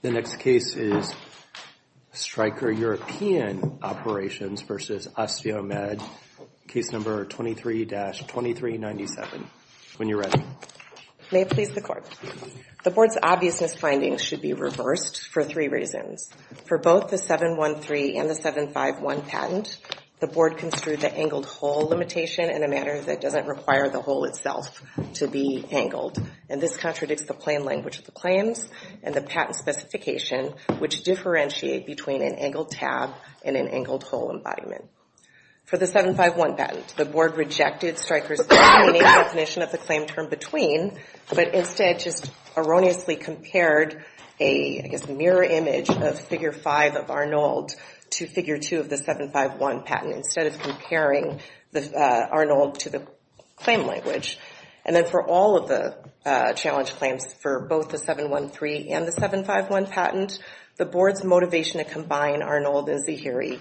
The next case is Stryker European Operations versus OsteoMed, case number 23-2397. When you're ready. May it please the court. The board's obviousness findings should be reversed for three reasons. For both the 713 and the 751 patent, the board construed the angled hole limitation in a manner that doesn't require the hole itself to be angled. And this contradicts the plain language of the claims and the patent specification, which differentiate between an angled tab and an angled hole embodiment. For the 751 patent, the board rejected Stryker's unique definition of the claim term between, but instead just erroneously compared a mirror image of figure five of Arnold to figure two of the 751 patent, instead of comparing Arnold to the claim language. And then for all of the challenge claims for both the 713 and the 751 patent, the board's motivation to combine Arnold and Zahiri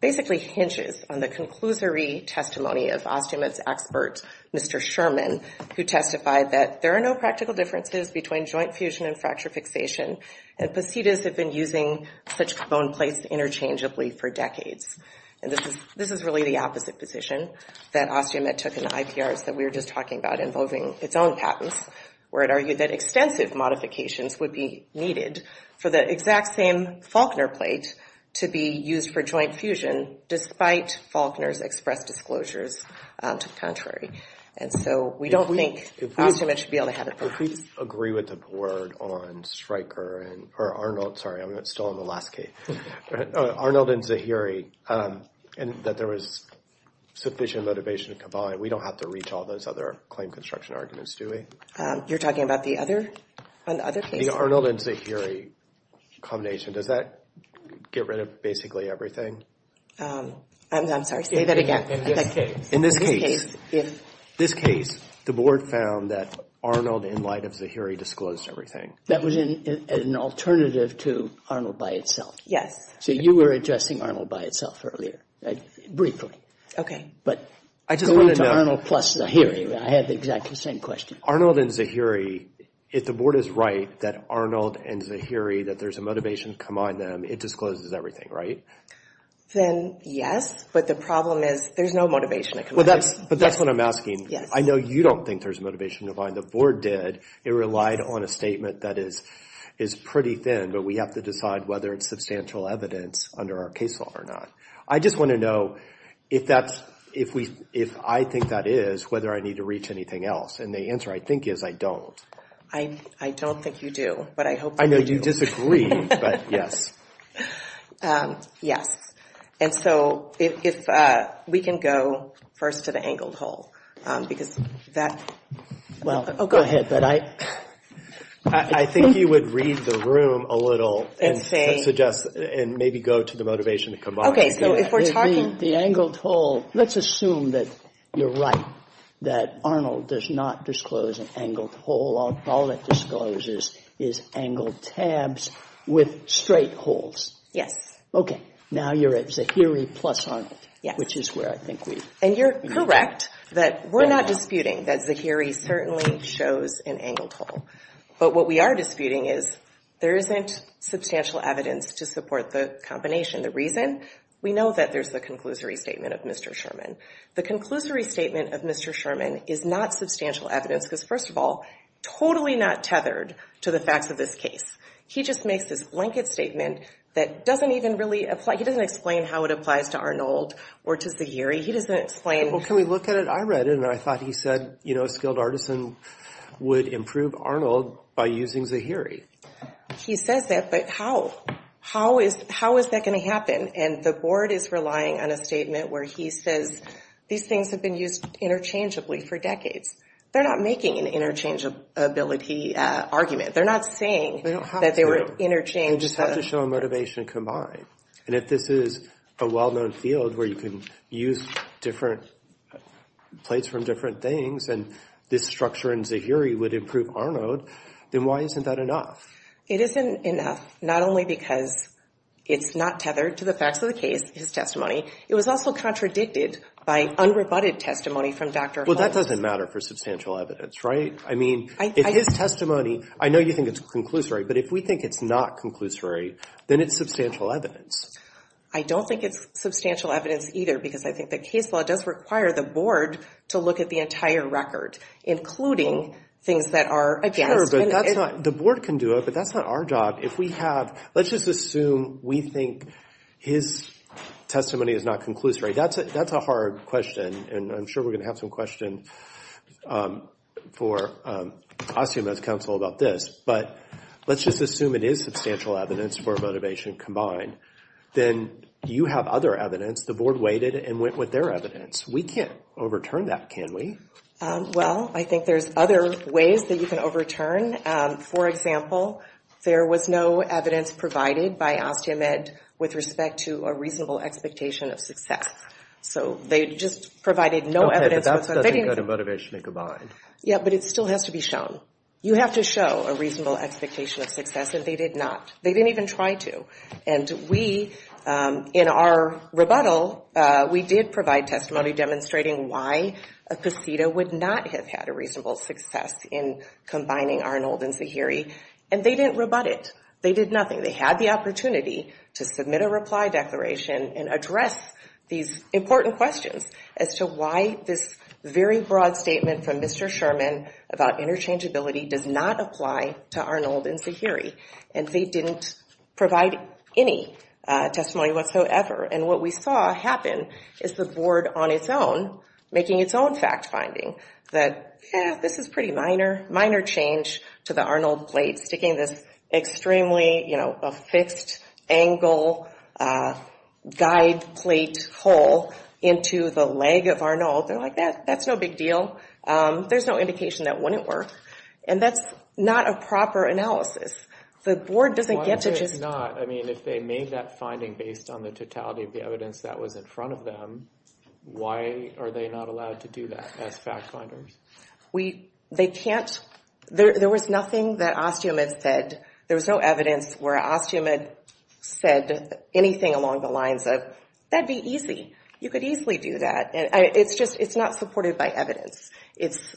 basically hinges on the conclusory testimony of OsteoMed's expert, Mr. Sherman, who testified that there are no practical differences between joint fusion and fracture fixation, and Positas have been using such bone plates interchangeably for decades. And this is really the opposite position that OsteoMed took in the IPRs that we were just talking about involving its own patents, where it argued that extensive modifications would be needed for the exact same Faulkner plate to be used for joint fusion, despite Faulkner's expressed disclosures to the contrary. And so we don't think OsteoMed should be able to have it. If we agree with the board on Stryker and, or Arnold, sorry, I'm still on the last case. Arnold and Zahiri, and that there was sufficient motivation to combine, we don't have to reach all those other same construction arguments, do we? You're talking about the other? On the other case? The Arnold and Zahiri combination, does that get rid of basically everything? I'm sorry, say that again. In this case, the board found that Arnold in light of Zahiri disclosed everything. That was an alternative to Arnold by itself. Yes. So you were addressing Arnold by itself earlier, briefly. Okay. But going to Arnold plus Zahiri, I had the exact same question. Arnold and Zahiri, if the board is right that Arnold and Zahiri, that there's a motivation to combine them, it discloses everything, right? Then yes, but the problem is there's no motivation to combine them. But that's what I'm asking. I know you don't think there's motivation to combine. The board did. It relied on a statement that is pretty thin, but we have to decide whether it's substantial evidence under our case law or not. I just want to know if I think that is, whether I need to reach anything else. And the answer, I think, is I don't. I don't think you do, but I hope you do. I know you disagree, but yes. Yes. And so if we can go first to the angled hole, because that... Well, go ahead, but I think you would read the room a little and suggest, and maybe go to the motivation to combine. Okay, so if we're talking... The angled hole, let's assume that you're right, that Arnold does not disclose an angled hole. All it discloses is angled tabs with straight holes. Yes. Okay, now you're at Zahiri plus Arnold, which is where I think we... And you're correct that we're not disputing that Zahiri certainly shows an angled hole. But what we are disputing is there isn't substantial evidence to support the combination. The reason, we know that there's the conclusory statement of Mr. Sherman. The conclusory statement of Mr. Sherman is not substantial evidence, because first of all, totally not tethered to the facts of this case. He just makes this blanket statement that doesn't even really apply. He doesn't explain how it applies to Arnold or to Zahiri. He doesn't explain... Well, can we look at it? I read it, and I thought he said a skilled artisan would improve Arnold by using Zahiri. He says that, but how? How is that gonna happen? And the board is relying on a statement where he says, these things have been used interchangeably for decades. They're not making an interchangeability argument. They're not saying that they were interchanged. They just have to show a motivation combined. And if this is a well-known field where you can use different plates from different things, and this structure in Zahiri would improve Arnold, then why isn't that enough? It isn't enough, not only because it's not tethered to the facts of the case, his testimony, it was also contradicted by unrebutted testimony from Dr. Holmes. Well, that doesn't matter for substantial evidence, right? I mean, if his testimony, I know you think it's conclusory, but if we think it's not conclusory, then it's substantial evidence. I don't think it's substantial evidence either, because I think that case law does require the board to look at the entire record, including things that are against. The board can do it, but that's not our job. If we have, let's just assume we think his testimony is not conclusory, that's a hard question, and I'm sure we're gonna have some questions for Ossium as counsel about this, but let's just assume it is substantial evidence for a motivation combined. Then you have other evidence, the board waited and went with their evidence. We can't overturn that, can we? Well, I think there's other ways that you can overturn. For example, there was no evidence provided by Ossium Ed with respect to a reasonable expectation of success. So they just provided no evidence. Okay, but that doesn't go to motivation combined. Yeah, but it still has to be shown. You have to show a reasonable expectation of success, and they did not. They didn't even try to. And we, in our rebuttal, we did provide testimony demonstrating why a casita would not have had a reasonable success in combining Arnold and Zahiri, and they didn't rebut it. They did nothing. They had the opportunity to submit a reply declaration and address these important questions as to why this very broad statement from Mr. Sherman about interchangeability does not apply to Arnold and Zahiri. And they didn't provide any testimony whatsoever. And what we saw happen is the board on its own making its own fact-finding, that, yeah, this is pretty minor, minor change to the Arnold plate, sticking this extremely, you know, a fixed-angle guide plate hole into the leg of Arnold. They're like, that's no big deal. There's no indication that wouldn't work. And that's not a proper analysis. The board doesn't get to just- Why would it not? I mean, if they made that finding based on the totality of the evidence that was in front of them, why are they not allowed to do that as fact-finders? We, they can't, there was nothing that Osteomed said. There was no evidence where Osteomed said anything along the lines of, that'd be easy. You could easily do that. And it's just, it's not supported by evidence. It's,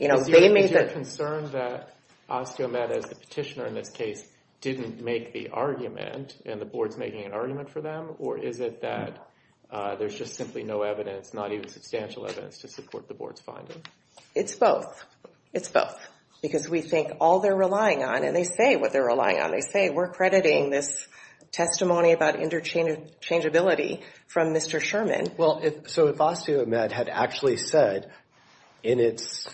you know, they made the- Is your concern that Osteomed, as the petitioner in this case, didn't make the argument, and the board's making an argument for them? Or is it that there's just simply no evidence, not even substantial evidence, to support the board's finding? It's both. It's both. Because we think all they're relying on, and they say what they're relying on. They say, we're crediting this testimony about interchangeability from Mr. Sherman. Well, so if Osteomed had actually said, in its,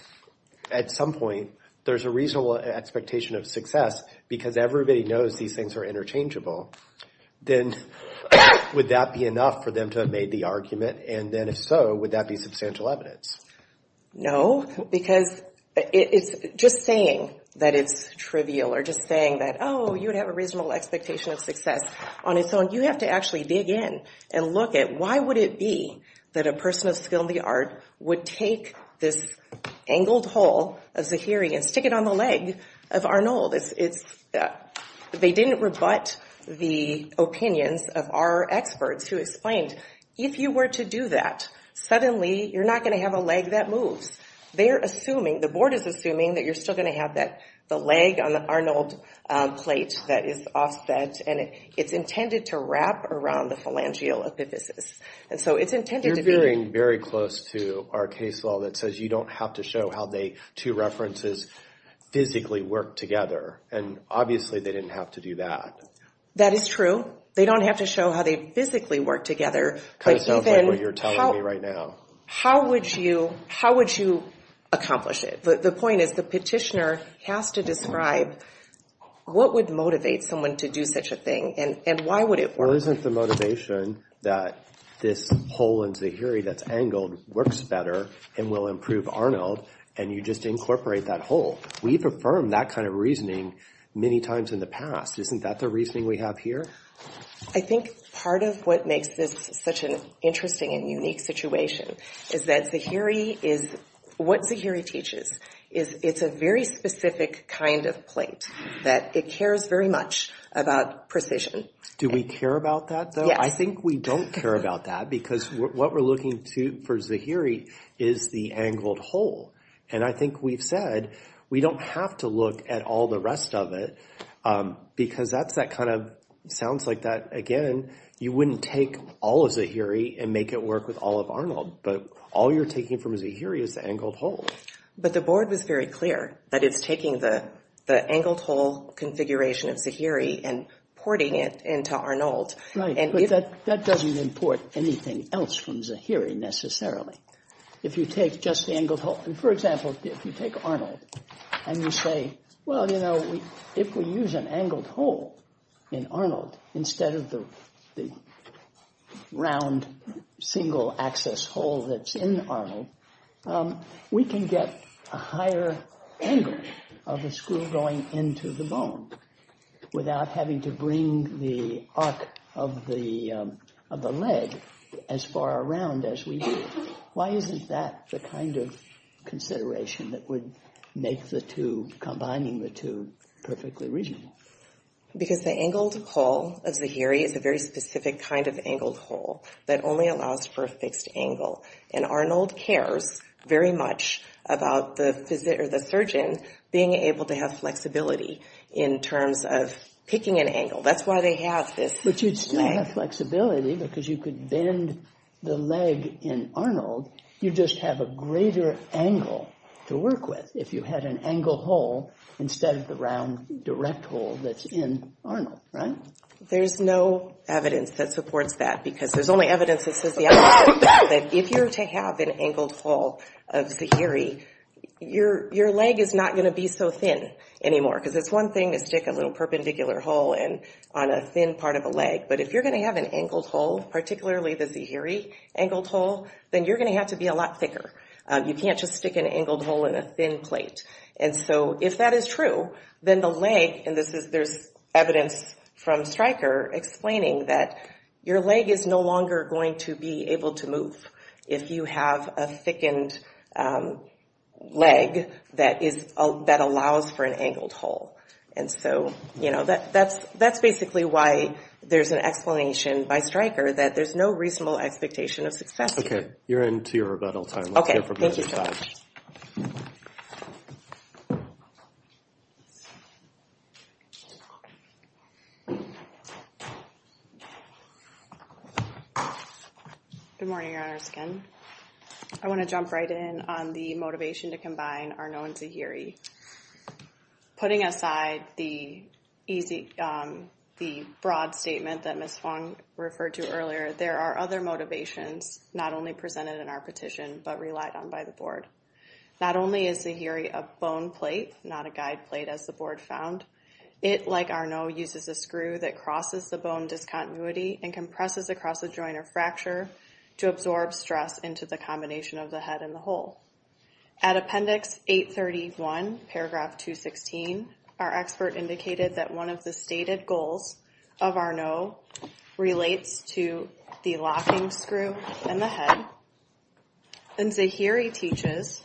at some point, there's a reasonable expectation of success because everybody knows these things are interchangeable, then would that be enough for them to have made the argument? And then, if so, would that be substantial evidence? No, because it's just saying that it's trivial, or just saying that, oh, you would have a reasonable expectation of success on its own. You have to actually dig in and look at, why would it be that a person of skill in the art would take this angled whole of Zahiri and stick it on the leg of Arnold? They didn't rebut the opinions of our experts who explained, if you were to do that, suddenly, you're not gonna have a leg that moves. They're assuming, the board is assuming, that you're still gonna have the leg on the Arnold plate that is offset, and it's intended to wrap around the phalangeal epiphysis. And so, it's intended to be. You're veering very close to our case law that says you don't have to show how the two references physically work together. And obviously, they didn't have to do that. That is true. They don't have to show how they physically work together. Kind of sounds like what you're telling me right now. How would you accomplish it? The point is, the petitioner has to describe, what would motivate someone to do such a thing, and why would it work? Or isn't the motivation that this whole in Zahiri that's angled, works better, and will improve Arnold, and you just incorporate that whole? We've affirmed that kind of reasoning many times in the past. Isn't that the reasoning we have here? I think part of what makes this such an interesting and unique situation, is that Zahiri is, what Zahiri teaches, is it's a very specific kind of plate, that it cares very much about precision. Do we care about that, though? I think we don't care about that, because what we're looking to for Zahiri, is the angled hole. And I think we've said, we don't have to look at all the rest of it, because that's that kind of, sounds like that again, you wouldn't take all of Zahiri, and make it work with all of Arnold, but all you're taking from Zahiri is the angled hole. But the board was very clear, that it's taking the angled hole configuration of Zahiri, and porting it into Arnold. Right, but that doesn't import anything else from Zahiri, necessarily. If you take just the angled hole, and for example, if you take Arnold, and you say, well, you know, if we use an angled hole in Arnold, instead of the round, single access hole that's in Arnold, we can get a higher angle of the screw going into the bone, without having to bring the arc of the leg as far around as we do. Why isn't that the kind of consideration that would make the two, combining the two, perfectly reasonable? Because the angled hole of Zahiri is a very specific kind of angled hole, that only allows for a fixed angle. And Arnold cares very much about the surgeon being able to have flexibility, in terms of picking an angle. That's why they have this thing. But you'd still have flexibility, because you could bend the leg in Arnold, you'd just have a greater angle to work with, if you had an angled hole, instead of the round, direct hole that's in Arnold, right? There's no evidence that supports that, because there's only evidence that says the other way around, that if you're to have an angled hole of Zahiri, your leg is not gonna be so thin anymore, because it's one thing to stick a little perpendicular hole on a thin part of a leg, but if you're gonna have an angled hole, particularly the Zahiri angled hole, then you're gonna have to be a lot thicker. You can't just stick an angled hole in a thin plate. And so, if that is true, then the leg, and there's evidence from Stryker explaining that, your leg is no longer going to be able to move, if you have a thickened leg, that allows for an angled hole. And so, that's basically why there's an explanation by Stryker, that there's no reasonable expectation of success here. Okay, you're in to your rebuttal time. Okay, thank you so much. Thank you. Good morning, Your Honors, again. I wanna jump right in on the motivation to combine Arnon Zahiri. Putting aside the broad statement that Ms. Fong referred to earlier, there are other motivations, not only presented in our petition, but relied on by the board. Not only is Zahiri a bone plate, not a guide plate as the board found, it, like Arnon, uses a screw that crosses the bone discontinuity and compresses across a joint or fracture to absorb stress into the combination of the head and the hole. At appendix 831, paragraph 216, our expert indicated that one of the stated goals of Arnon relates to the locking screw in the head, and Zahiri teaches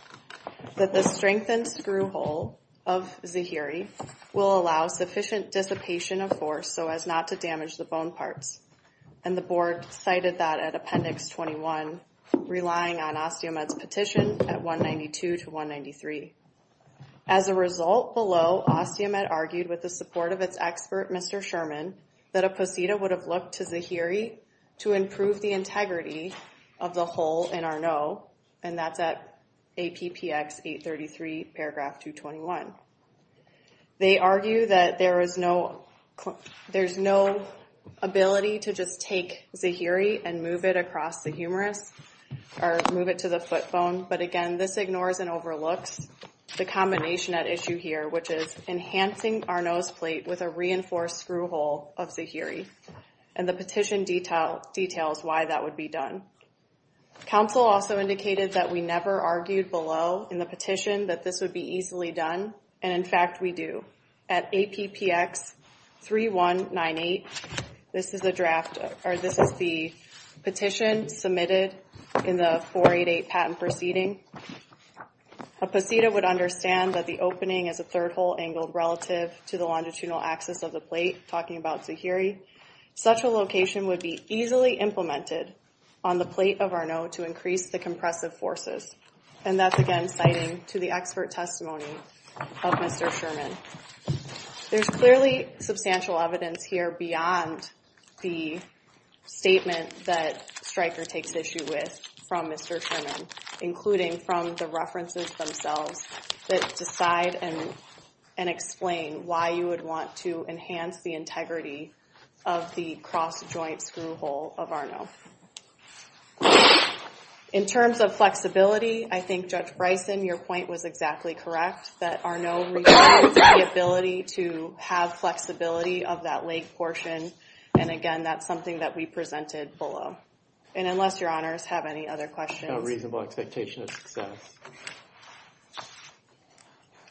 that the strengthened screw hole of Zahiri will allow sufficient dissipation of force so as not to damage the bone parts. And the board cited that at appendix 21, relying on Osteomed's petition at 192 to 193. As a result, below, Osteomed argued with the support of its expert, Mr. Sherman, that a posita would have looked to Zahiri to improve the integrity of the hole in Arnon, and that's at APPX 833, paragraph 221. They argue that there's no ability to just take Zahiri and move it across the humerus, or move it to the foot bone, but again, this ignores and overlooks the combination at issue here, which is enhancing Arnon's plate with a reinforced screw hole of Zahiri. And the petition details why that would be done. Council also indicated that we never argued below in the petition that this would be easily done, and in fact, we do. At APPX 3198, this is the draft, or this is the petition submitted in the 488 patent proceeding. A posita would understand that the opening is a third hole angled relative to the longitudinal axis of the plate, talking about Zahiri. Such a location would be easily implemented on the plate of Arnon to increase the compressive forces. And that's again, citing to the expert testimony of Mr. Sherman. There's clearly substantial evidence here beyond the statement that Stryker takes issue with from Mr. Sherman, including from the references themselves that decide and explain why you would want to enhance the integrity of the cross joint screw hole of Arnon. In terms of flexibility, I think Judge Bryson, your point was exactly correct, that Arnon requires the ability to have flexibility of that leg portion. And again, that's something that we presented below. And unless your honors have any other questions. A reasonable expectation of success.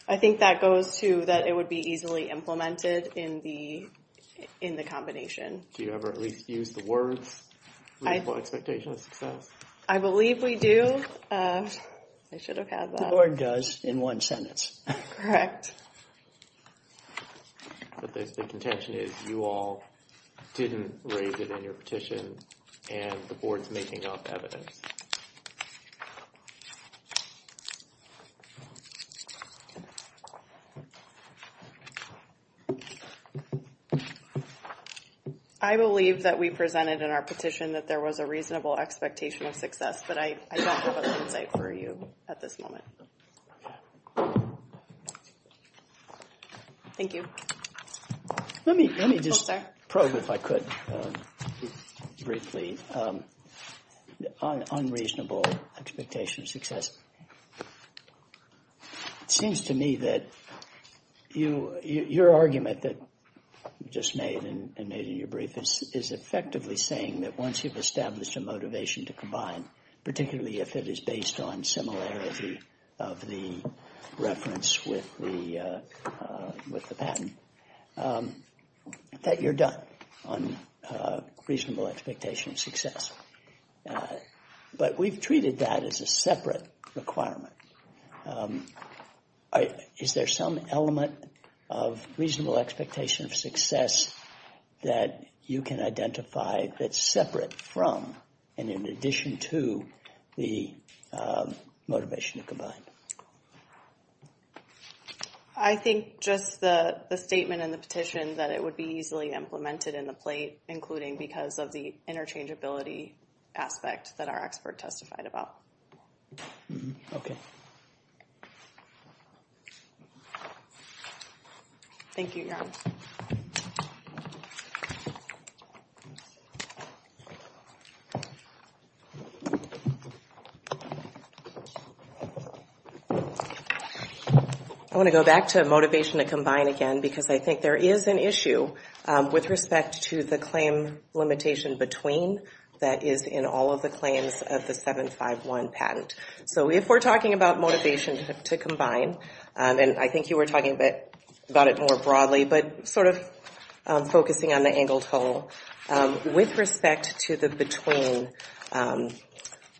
I think that goes to that it would be easily implemented in the combination. Do you ever at least use the words reasonable expectation of success? I believe we do, I should have had that. The board does, in one sentence. Correct. But the contention is you all didn't raise it in your petition and the board's making up evidence. Thank you. I believe that we presented in our petition that there was a reasonable expectation of success, but I don't have other insight for you at this moment. Thank you. Let me just probe if I could, briefly. On reasonable expectation of success. It seems to me that your argument that you just made and made in your brief is effectively saying that once you've established a motivation to combine, particularly if it is based on similarity of the reference with the patent, that you're done on reasonable expectation of success. But we've treated that as a separate requirement. Is there some element of reasonable expectation of success that you can identify that's separate from and in addition to the motivation to combine? I think just the statement in the petition that it would be easily implemented in the plate, including because of the interchangeability aspect that our expert testified about. Okay. Thank you, Jan. I wanna go back to motivation to combine again because I think there is an issue with respect to the claim limitation between that is in all of the claims of the 751 patent. So if we're talking about motivation to combine, and I think you were talking about it more broadly, but sort of focusing on the angled whole, with respect to the between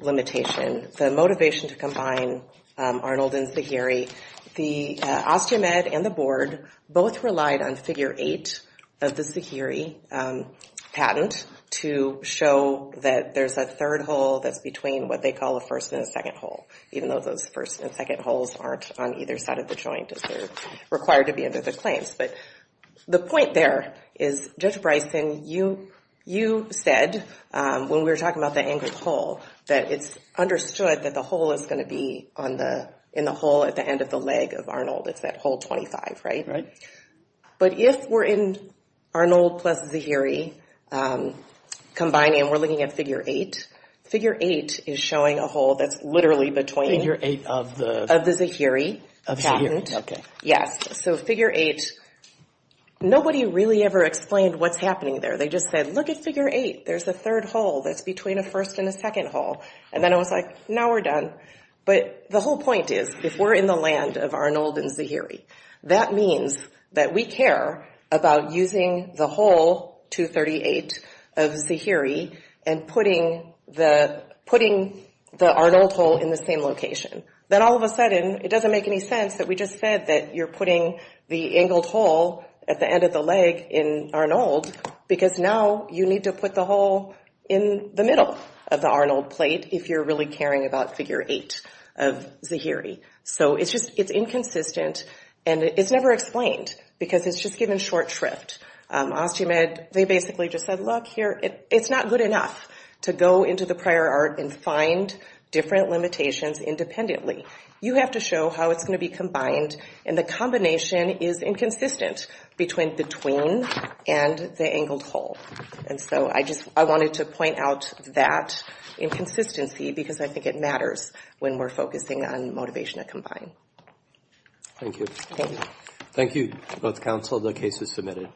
limitation, the motivation to combine Arnold and Zagheri, the Osteomed and the board both relied on figure eight of the Zagheri patent to show that there's a third hole that's between what they call a first and a second hole, even though those first and second holes aren't on either side of the joint as they're required to be under the claims. But the point there is, Judge Bryson, you said when we were talking about the angled hole that it's understood that the hole is gonna be in the hole at the end of the leg of Arnold, it's that hole 25, right? But if we're in Arnold plus Zagheri combining, and we're looking at figure eight, figure eight is showing a hole that's literally between- Figure eight of the- Of the Zagheri patent. Of Zagheri, okay. Yes, so figure eight, nobody really ever explained what's happening there. They just said, look at figure eight, there's a third hole that's between a first and a second hole. And then I was like, now we're done. But the whole point is, if we're in the land of Arnold and Zagheri, that means that we care about using the hole 238 of Zagheri and putting the Arnold hole in the same location. Then all of a sudden, it doesn't make any sense that we just said that you're putting the angled hole at the end of the leg in Arnold, because now you need to put the hole in the middle of the Arnold plate if you're really caring about figure eight of Zagheri. So it's just, it's inconsistent and it's never explained because it's just given short shrift. Osteomed, they basically just said, look here, it's not good enough to go into the prior art and find different limitations independently. You have to show how it's gonna be combined and the combination is inconsistent between the tween and the angled hole. And so I just, I wanted to point out that inconsistency because I think it matters when we're focusing on motivation to combine. Thank you. Thank you. Thank you, both counsel, the case is submitted.